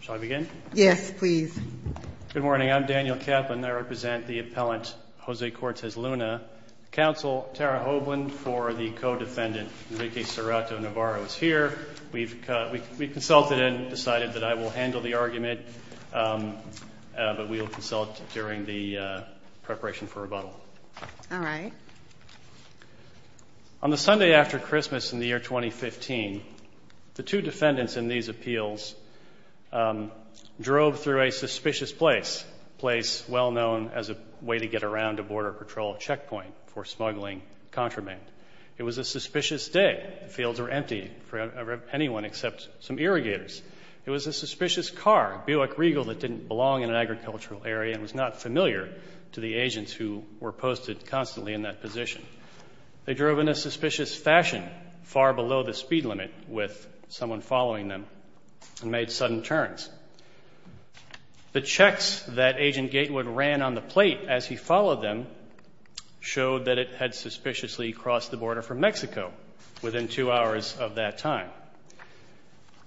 Shall I begin? Yes, please. Good morning. I'm Daniel Kaplan. I represent the appellant Jose Cortez-Luna. Counsel Tara Hovland for the co-defendant, Enrique Cerrato Navarro, is here. We've consulted and decided that I will handle the argument, but we will consult during the preparation for rebuttal. All right. On the Sunday after Christmas in the year 2015, the two defendants in these appeals drove through a suspicious place, a place well-known as a way to get around a Border Patrol checkpoint for smuggling contraband. It was a suspicious day. The fields were empty for anyone except some irrigators. It was a suspicious car, a Buick Regal, that didn't belong in an agricultural area and was not familiar to the agents who were posted constantly in that position. They drove in a suspicious fashion far below the speed limit with someone following them and made sudden turns. The checks that Agent Gatewood ran on the plate as he followed them showed that it had suspiciously crossed the border from Mexico within two hours of that time.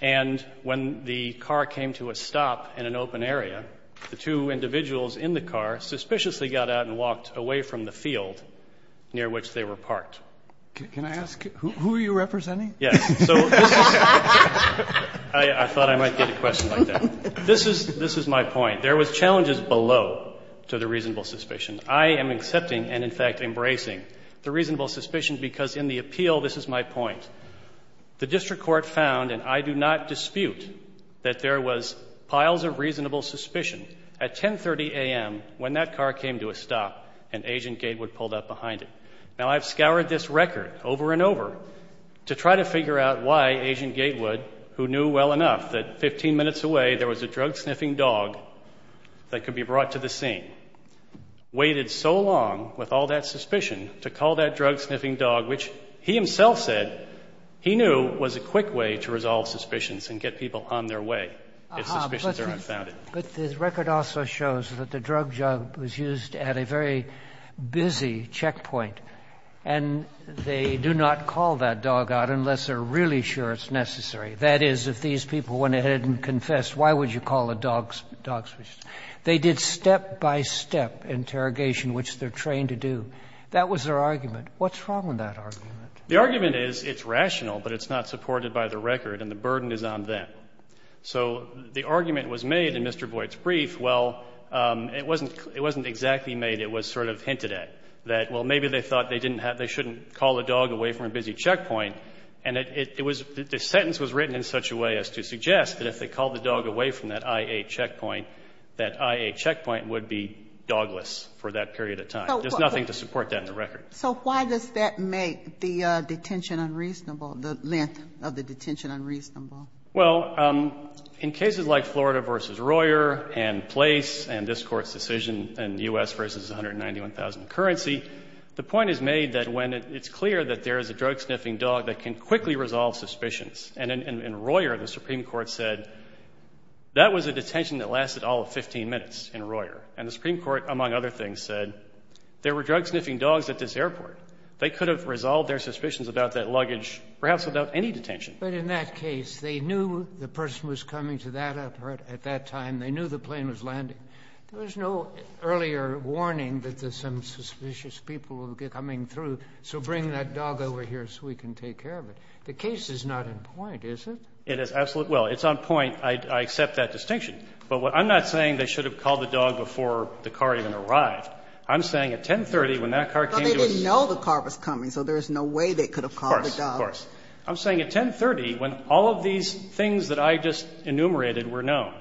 And when the car came to a stop in an open area, the two individuals in the car suspiciously got out and walked away from the field near which they were parked. Can I ask, who are you representing? Yes. I thought I might get a question like that. This is my point. There was challenges below to the reasonable suspicion. I am accepting and, in fact, embracing the reasonable suspicion because in the appeal, this is my point. The district court found, and I do not dispute, that there was piles of reasonable suspicion at 10.30 a.m. when that car came to a stop and Agent Gatewood pulled up behind it. Now, I've scoured this record over and over to try to figure out why Agent Gatewood, who knew well enough that 15 minutes away there was a drug-sniffing dog that could be brought to the scene, waited so long with all that suspicion to call that drug-sniffing dog, which he himself said he knew was a quick way to resolve suspicions and get people on their way if suspicions are unfounded. But the record also shows that the drug jug was used at a very busy checkpoint, and they do not call that dog out unless they're really sure it's necessary. That is, if these people went ahead and confessed, why would you call the dog suspicious? They did step-by-step interrogation, which they're trained to do. That was their argument. What's wrong with that argument? The argument is it's rational, but it's not supported by the record, and the burden is on them. So the argument was made in Mr. Boyd's brief. Well, it wasn't exactly made. It was sort of hinted at, that, well, maybe they thought they didn't have to call the dog away from a busy checkpoint. And the sentence was written in such a way as to suggest that if they called the dog away from that IA checkpoint, that IA checkpoint would be dogless for that period of time. There's nothing to support that in the record. So why does that make the detention unreasonable, the length of the detention unreasonable? Well, in cases like Florida v. Royer and Place and this Court's decision in U.S. v. Currency, the point is made that when it's clear that there is a drug-sniffing dog that can quickly resolve suspicions. And in Royer, the Supreme Court said that was a detention that lasted all of 15 minutes in Royer. And the Supreme Court, among other things, said there were drug-sniffing dogs at this airport. They could have resolved their suspicions about that luggage perhaps without any detention. But in that case, they knew the person was coming to that airport at that time. They knew the plane was landing. There was no earlier warning that there's some suspicious people coming through, so bring that dog over here so we can take care of it. The case is not in point, is it? It is absolutely. Well, it's on point. I accept that distinction. But what I'm not saying they should have called the dog before the car even arrived. I'm saying at 1030 when that car came to us. But they didn't know the car was coming, so there's no way they could have called the dog. Of course, of course. I'm saying at 1030 when all of these things that I just enumerated were known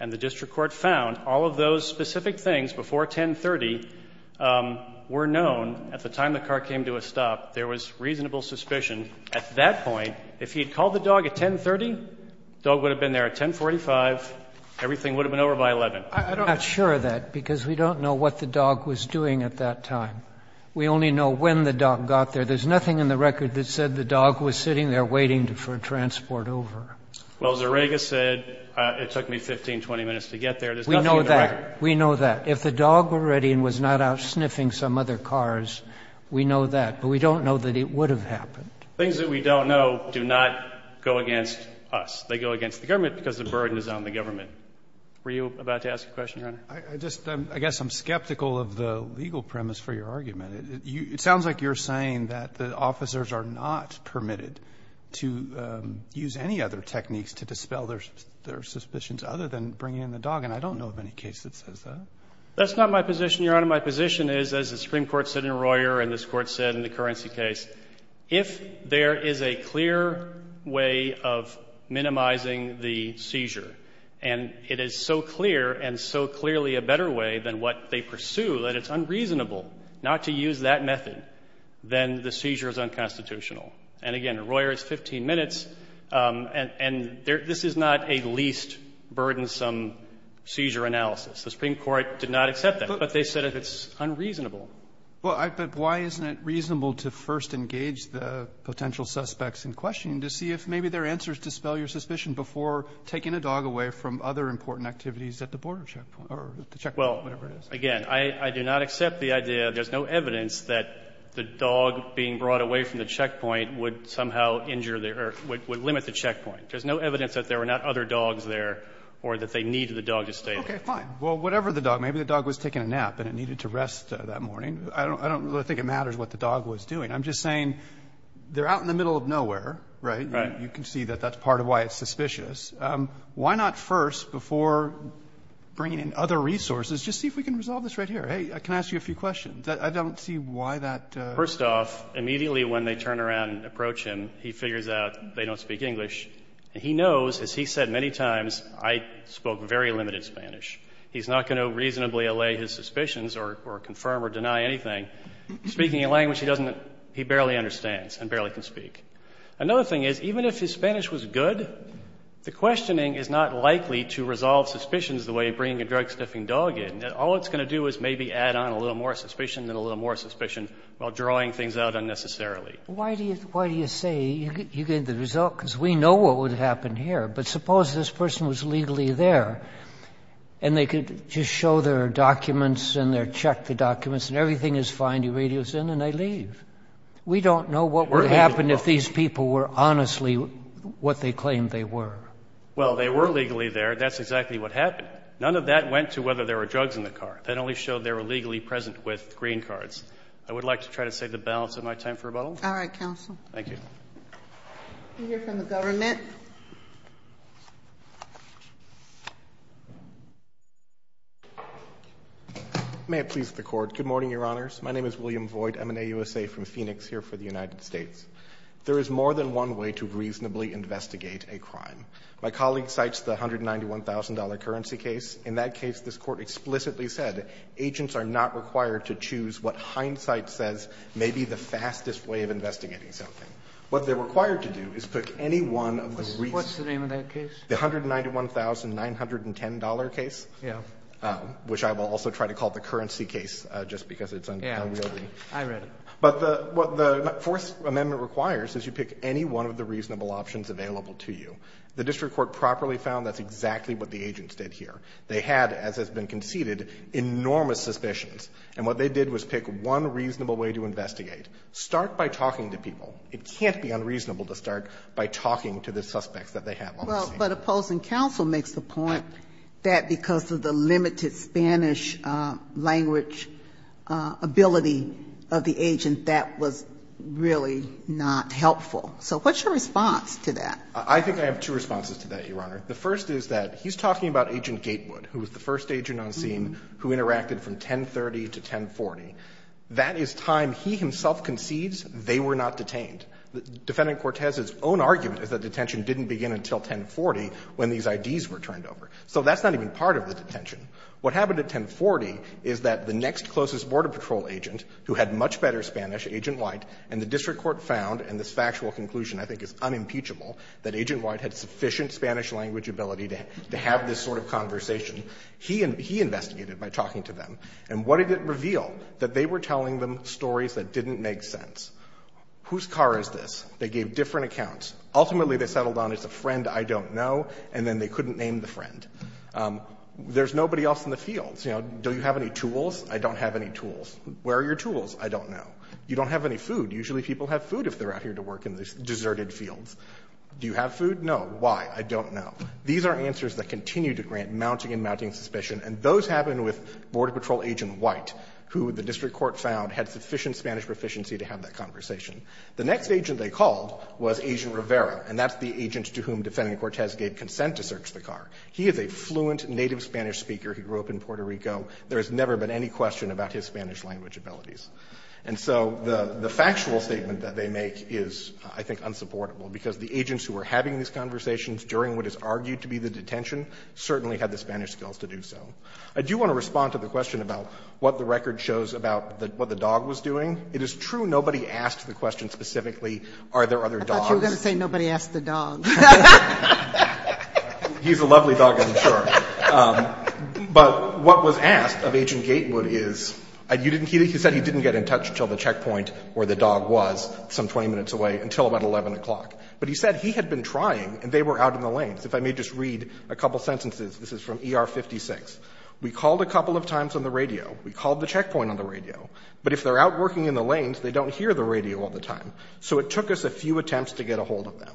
and the district court found all of those specific things before 1030 were known at the time the car came to a stop, there was reasonable suspicion. At that point, if he had called the dog at 1030, the dog would have been there at 1045. Everything would have been over by 11. I'm not sure of that because we don't know what the dog was doing at that time. We only know when the dog got there. There's nothing in the record that said the dog was sitting there waiting for transport to get there. Well, Zerega said it took me 15, 20 minutes to get there. There's nothing in the record. We know that. We know that. If the dog were ready and was not out sniffing some other cars, we know that. But we don't know that it would have happened. Things that we don't know do not go against us. They go against the government because the burden is on the government. Were you about to ask a question, Your Honor? I just, I guess I'm skeptical of the legal premise for your argument. It sounds like you're saying that the officers are not permitted to use any other techniques to dispel their suspicions other than bringing in the dog, and I don't know of any case that says that. That's not my position, Your Honor. My position is, as the Supreme Court said in Royer and this Court said in the Currency case, if there is a clear way of minimizing the seizure, and it is so clear and so clear, if you use that method, then the seizure is unconstitutional. And, again, in Royer it's 15 minutes, and this is not a least burdensome seizure analysis. The Supreme Court did not accept that, but they said it's unreasonable. But why isn't it reasonable to first engage the potential suspects in questioning to see if maybe there are answers to dispel your suspicion before taking a dog away from other important activities at the border checkpoint or at the checkpoint or whatever it is? Again, I do not accept the idea that there's no evidence that the dog being brought away from the checkpoint would somehow injure the or would limit the checkpoint. There's no evidence that there were not other dogs there or that they needed the dog to stay there. Roberts. Okay. Fine. Well, whatever the dog. Maybe the dog was taking a nap and it needed to rest that morning. I don't really think it matters what the dog was doing. I'm just saying they're out in the middle of nowhere, right? Right. You can see that that's part of why it's suspicious. Why not first, before bringing in other resources, just see if we can resolve this right here? Hey, can I ask you a few questions? I don't see why that. First off, immediately when they turn around and approach him, he figures out they don't speak English. He knows, as he said many times, I spoke very limited Spanish. He's not going to reasonably allay his suspicions or confirm or deny anything. Speaking a language he doesn't he barely understands and barely can speak. Another thing is, even if his Spanish was good, the questioning is not likely to resolve suspicions the way bringing a drug-sniffing dog in. All it's going to do is maybe add on a little more suspicion and a little more suspicion while drawing things out unnecessarily. Why do you say you get the result? Because we know what would happen here. But suppose this person was legally there and they could just show their documents and check the documents and everything is fine. You radio us in and they leave. We don't know what would happen if these people were honestly what they claimed they were. Well, they were legally there. That's exactly what happened. None of that went to whether there were drugs in the car. That only showed they were legally present with green cards. I would like to try to save the balance of my time for rebuttal. All right, counsel. Thank you. We hear from the government. May it please the Court. Good morning, Your Honors. My name is William Voigt. I'm an AUSA from Phoenix here for the United States. There is more than one way to reasonably investigate a crime. My colleague cites the $191,000 currency case. In that case, this Court explicitly said agents are not required to choose what hindsight says may be the fastest way of investigating something. What they're required to do is pick any one of the reasons. What's the name of that case? The $191,910 case. Yes. Which I will also try to call the currency case just because it's unrealistic. I read it. But what the Fourth Amendment requires is you pick any one of the reasonable options available to you. The district court properly found that's exactly what the agents did here. They had, as has been conceded, enormous suspicions. And what they did was pick one reasonable way to investigate. Start by talking to people. It can't be unreasonable to start by talking to the suspects that they have on the Well, but opposing counsel makes the point that because of the limited Spanish language ability of the agent, that was really not helpful. So what's your response to that? I think I have two responses to that, Your Honor. The first is that he's talking about Agent Gatewood, who was the first agent on scene who interacted from 1030 to 1040. That is time he himself concedes they were not detained. Defendant Cortez's own argument is that detention didn't begin until 1040 when these IDs were turned over. So that's not even part of the detention. What happened at 1040 is that the next closest Border Patrol agent, who had much better Spanish, Agent White, and the district court found, and this factual conclusion I think is unimpeachable, that Agent White had sufficient Spanish language ability to have this sort of conversation. He investigated by talking to them. And what did it reveal? That they were telling them stories that didn't make sense. Whose car is this? They gave different accounts. Ultimately, they settled on it's a friend I don't know, and then they couldn't name the friend. There's nobody else in the fields. You know, do you have any tools? I don't have any tools. Where are your tools? I don't know. You don't have any food. Usually people have food if they're out here to work in these deserted fields. Do you have food? No. Why? I don't know. These are answers that continue to grant mounting and mounting suspicion, and those happen with Border Patrol Agent White, who the district court found had sufficient Spanish proficiency to have that conversation. The next agent they called was Agent Rivera, and that's the agent to whom Defendant Cortez gave consent to search the car. He is a fluent native Spanish speaker. He grew up in Puerto Rico. There has never been any question about his Spanish language abilities. And so the factual statement that they make is, I think, unsupportable, because the agents who were having these conversations during what is argued to be the detention certainly had the Spanish skills to do so. I do want to respond to the question about what the record shows about what the dog was doing. It is true nobody asked the question specifically are there other dogs. I thought you were going to say nobody asked the dog. He's a lovely dog, I'm sure. But what was asked of Agent Gatewood is he said he didn't get in touch until the checkpoint where the dog was some 20 minutes away until about 11 o'clock. But he said he had been trying, and they were out in the lanes. If I may just read a couple of sentences. This is from ER 56. We called a couple of times on the radio. We called the checkpoint on the radio. But if they're out working in the lanes, they don't hear the radio all the time. So it took us a few attempts to get a hold of them.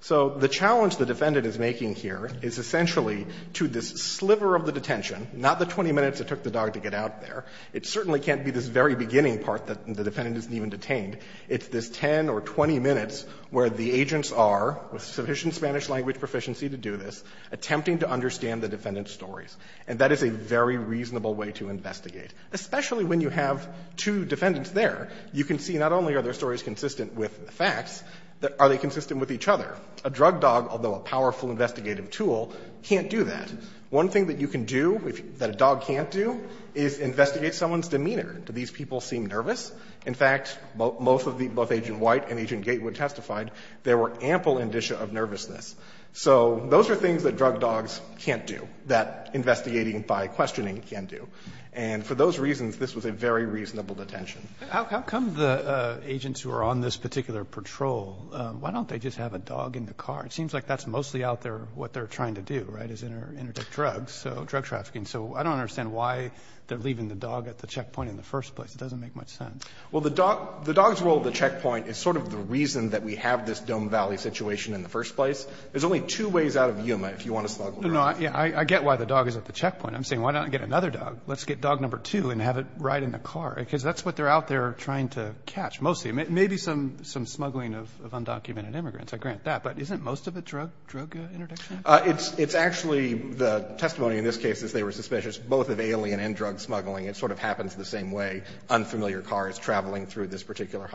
So the challenge the defendant is making here is essentially to this sliver of the detention, not the 20 minutes it took the dog to get out there. It certainly can't be this very beginning part that the defendant isn't even detained. It's this 10 or 20 minutes where the agents are, with sufficient Spanish language proficiency to do this, attempting to understand the defendant's stories. And that is a very reasonable way to investigate. Especially when you have two defendants there, you can see not only are their stories consistent with the facts, but are they consistent with each other? A drug dog, although a powerful investigative tool, can't do that. One thing that you can do that a dog can't do is investigate someone's demeanor. Do these people seem nervous? In fact, both Agent White and Agent Gatewood testified there were ample indicia of nervousness. So those are things that drug dogs can't do, that investigating by questioning can do. And for those reasons, this was a very reasonable detention. Roberts. How come the agents who are on this particular patrol, why don't they just have a dog in the car? It seems like that's mostly out there what they're trying to do, right, is interdict drugs. So drug trafficking. So I don't understand why they're leaving the dog at the checkpoint in the first place. It doesn't make much sense. Well, the dog's role at the checkpoint is sort of the reason that we have this Dome Valley situation in the first place. There's only two ways out of Yuma, if you want to snuggle around. No, I get why the dog is at the checkpoint. I'm saying why not get another dog? Let's get dog number two and have it ride in the car, because that's what they're out there trying to catch, mostly. Maybe some smuggling of undocumented immigrants. I grant that. But isn't most of it drug interdiction? It's actually the testimony in this case is they were suspicious both of alien and drug smuggling. It sort of happens the same way, unfamiliar cars traveling through this particular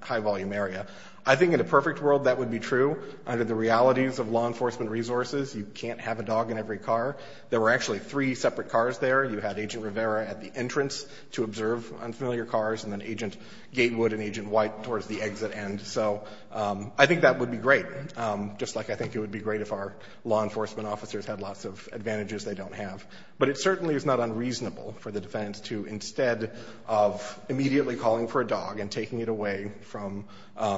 high-volume area. I think in a perfect world, that would be true. Under the realities of law enforcement resources, you can't have a dog in every car. There were actually three separate cars there. You had Agent Rivera at the entrance to observe unfamiliar cars, and then Agent Gatewood and Agent White towards the exit end. So I think that would be great, just like I think it would be great if our law enforcement officers had lots of advantages they don't have. But it certainly is not unreasonable for the defense to, instead of immediately calling for a dog and taking it away from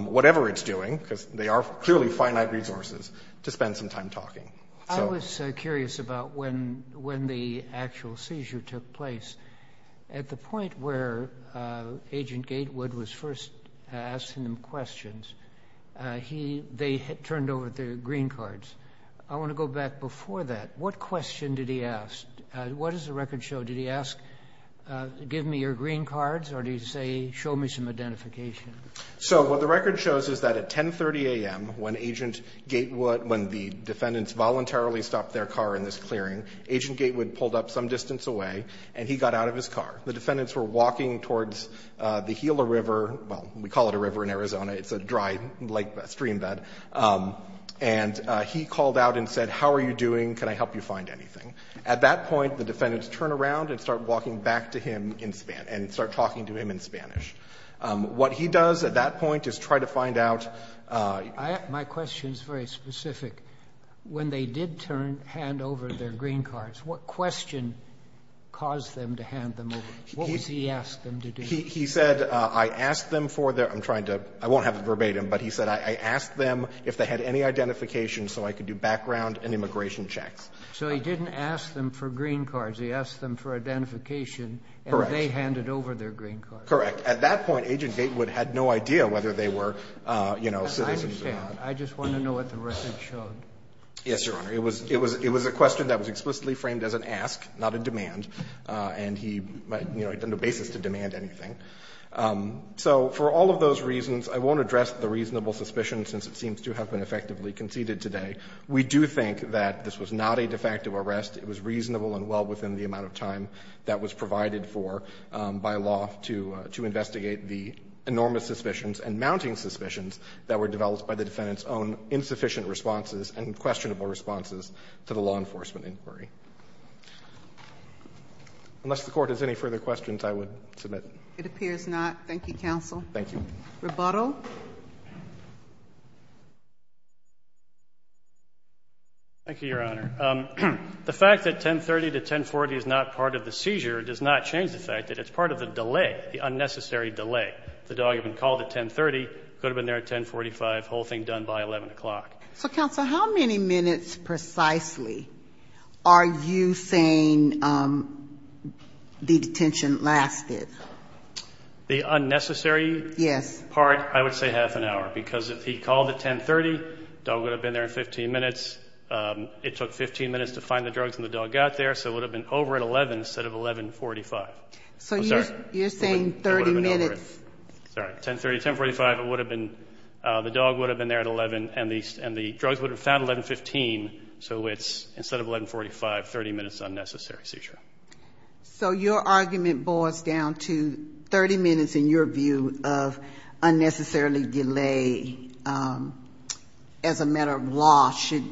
whatever it's doing, because they are clearly finite resources, to spend some time talking. I was curious about when the actual seizure took place. At the point where Agent Gatewood was first asking him questions, they turned over their green cards. I want to go back before that. What question did he ask? What does the record show? Did he ask, give me your green cards, or did he say, show me some identification? So what the record shows is that at 10.30 a.m., when the defendants voluntarily stopped their car in this clearing, Agent Gatewood pulled up some distance away, and he got out of his car. The defendants were walking towards the Gila River. Well, we call it a river in Arizona. It's a dry stream bed. And he called out and said, how are you doing? Can I help you find anything? At that point, the defendants turned around and started walking back to him and started talking to him in Spanish. What he does at that point is try to find out ---- My question is very specific. When they did turn, hand over their green cards, what question caused them to hand them over? What was he asked them to do? He said, I asked them for their ---- I'm trying to ---- I won't have verbatim, but he said, I asked them if they had any identification so I could do background and immigration checks. So he didn't ask them for green cards. He asked them for identification. Correct. And they handed over their green cards. Correct. At that point, Agent Gatewood had no idea whether they were, you know, citizens or not. I understand. I just want to know what the record showed. Yes, Your Honor. It was a question that was explicitly framed as an ask, not a demand. And he, you know, he didn't have a basis to demand anything. So for all of those reasons, I won't address the reasonable suspicion since it seems to have been effectively conceded today. We do think that this was not a de facto arrest. It was reasonable and well within the amount of time that was provided for by law to investigate the enormous suspicions and mounting suspicions that were developed by the defendant's own insufficient responses and questionable responses to the law enforcement inquiry. Unless the Court has any further questions, I would submit. It appears not. Thank you, counsel. Thank you. Rebuttal. Thank you, Your Honor. The fact that 1030 to 1040 is not part of the seizure does not change the fact that it's part of the delay, the unnecessary delay. The dog had been called at 1030, could have been there at 1045, whole thing done by 11 o'clock. So, counsel, how many minutes precisely are you saying the detention lasted? The unnecessary part, I would say half an hour because if he called at 1030, dog got there, so it would have been over at 11 instead of 1145. So you're saying 30 minutes. Sorry. 1030 to 1045, the dog would have been there at 11 and the drugs would have been found at 1115, so it's instead of 1145, 30 minutes unnecessary seizure. So your argument boils down to 30 minutes in your view of unnecessarily delay as a matter of fact. And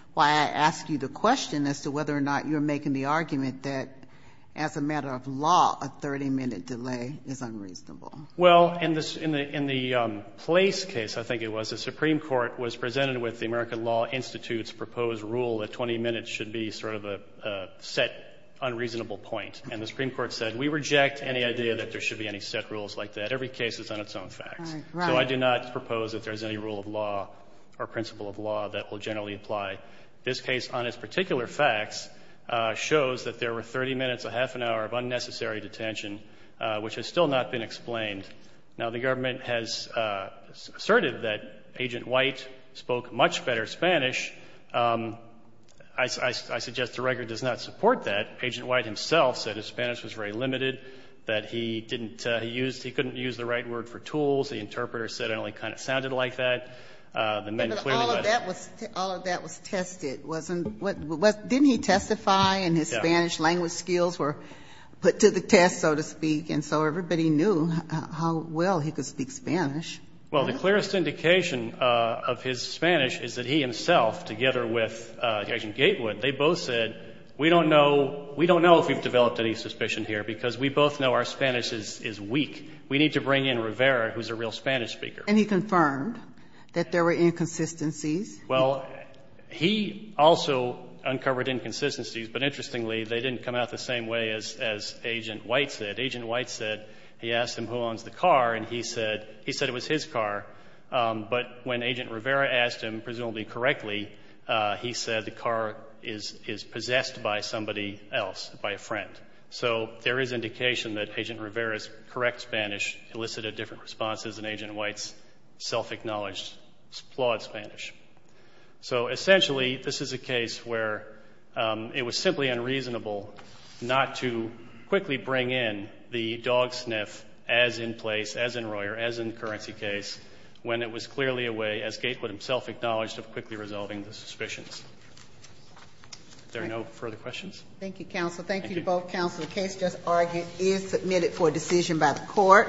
that's why I ask you the question as to whether or not you're making the argument that as a matter of law, a 30-minute delay is unreasonable. Well, in the Place case, I think it was, the Supreme Court was presented with the American Law Institute's proposed rule that 20 minutes should be sort of a set unreasonable point. And the Supreme Court said, we reject any idea that there should be any set rules like that. Every case is on its own facts. Right. So I do not propose that there's any rule of law or principle of law that will generally apply. This case, on its particular facts, shows that there were 30 minutes, a half an hour of unnecessary detention, which has still not been explained. Now, the government has asserted that Agent White spoke much better Spanish. I suggest the record does not support that. Agent White himself said his Spanish was very limited, that he didn't use, he couldn't use the right word for tools. The interpreter said it only kind of sounded like that. The men clearly were not. All of that was tested. Didn't he testify and his Spanish language skills were put to the test, so to speak, and so everybody knew how well he could speak Spanish. Well, the clearest indication of his Spanish is that he himself, together with Agent Gatewood, they both said, we don't know, we don't know if we've developed any suspicion here, because we both know our Spanish is weak. We need to bring in Rivera, who's a real Spanish speaker. And he confirmed that there were inconsistencies? Well, he also uncovered inconsistencies, but interestingly, they didn't come out the same way as Agent White said. Agent White said he asked him who owns the car, and he said it was his car. But when Agent Rivera asked him, presumably correctly, he said the car is possessed by somebody else, by a friend. So there is indication that Agent Rivera's correct Spanish elicited different responses, and Agent White's self-acknowledged flawed Spanish. So essentially, this is a case where it was simply unreasonable not to quickly bring in the dog sniff as in place, as in Royer, as in the currency case, when it was clearly a way, as Gatewood himself acknowledged, of quickly resolving the suspicions. Are there no further questions? Thank you, counsel. Thank you to both counsel. The case just argued is submitted for decision by the court.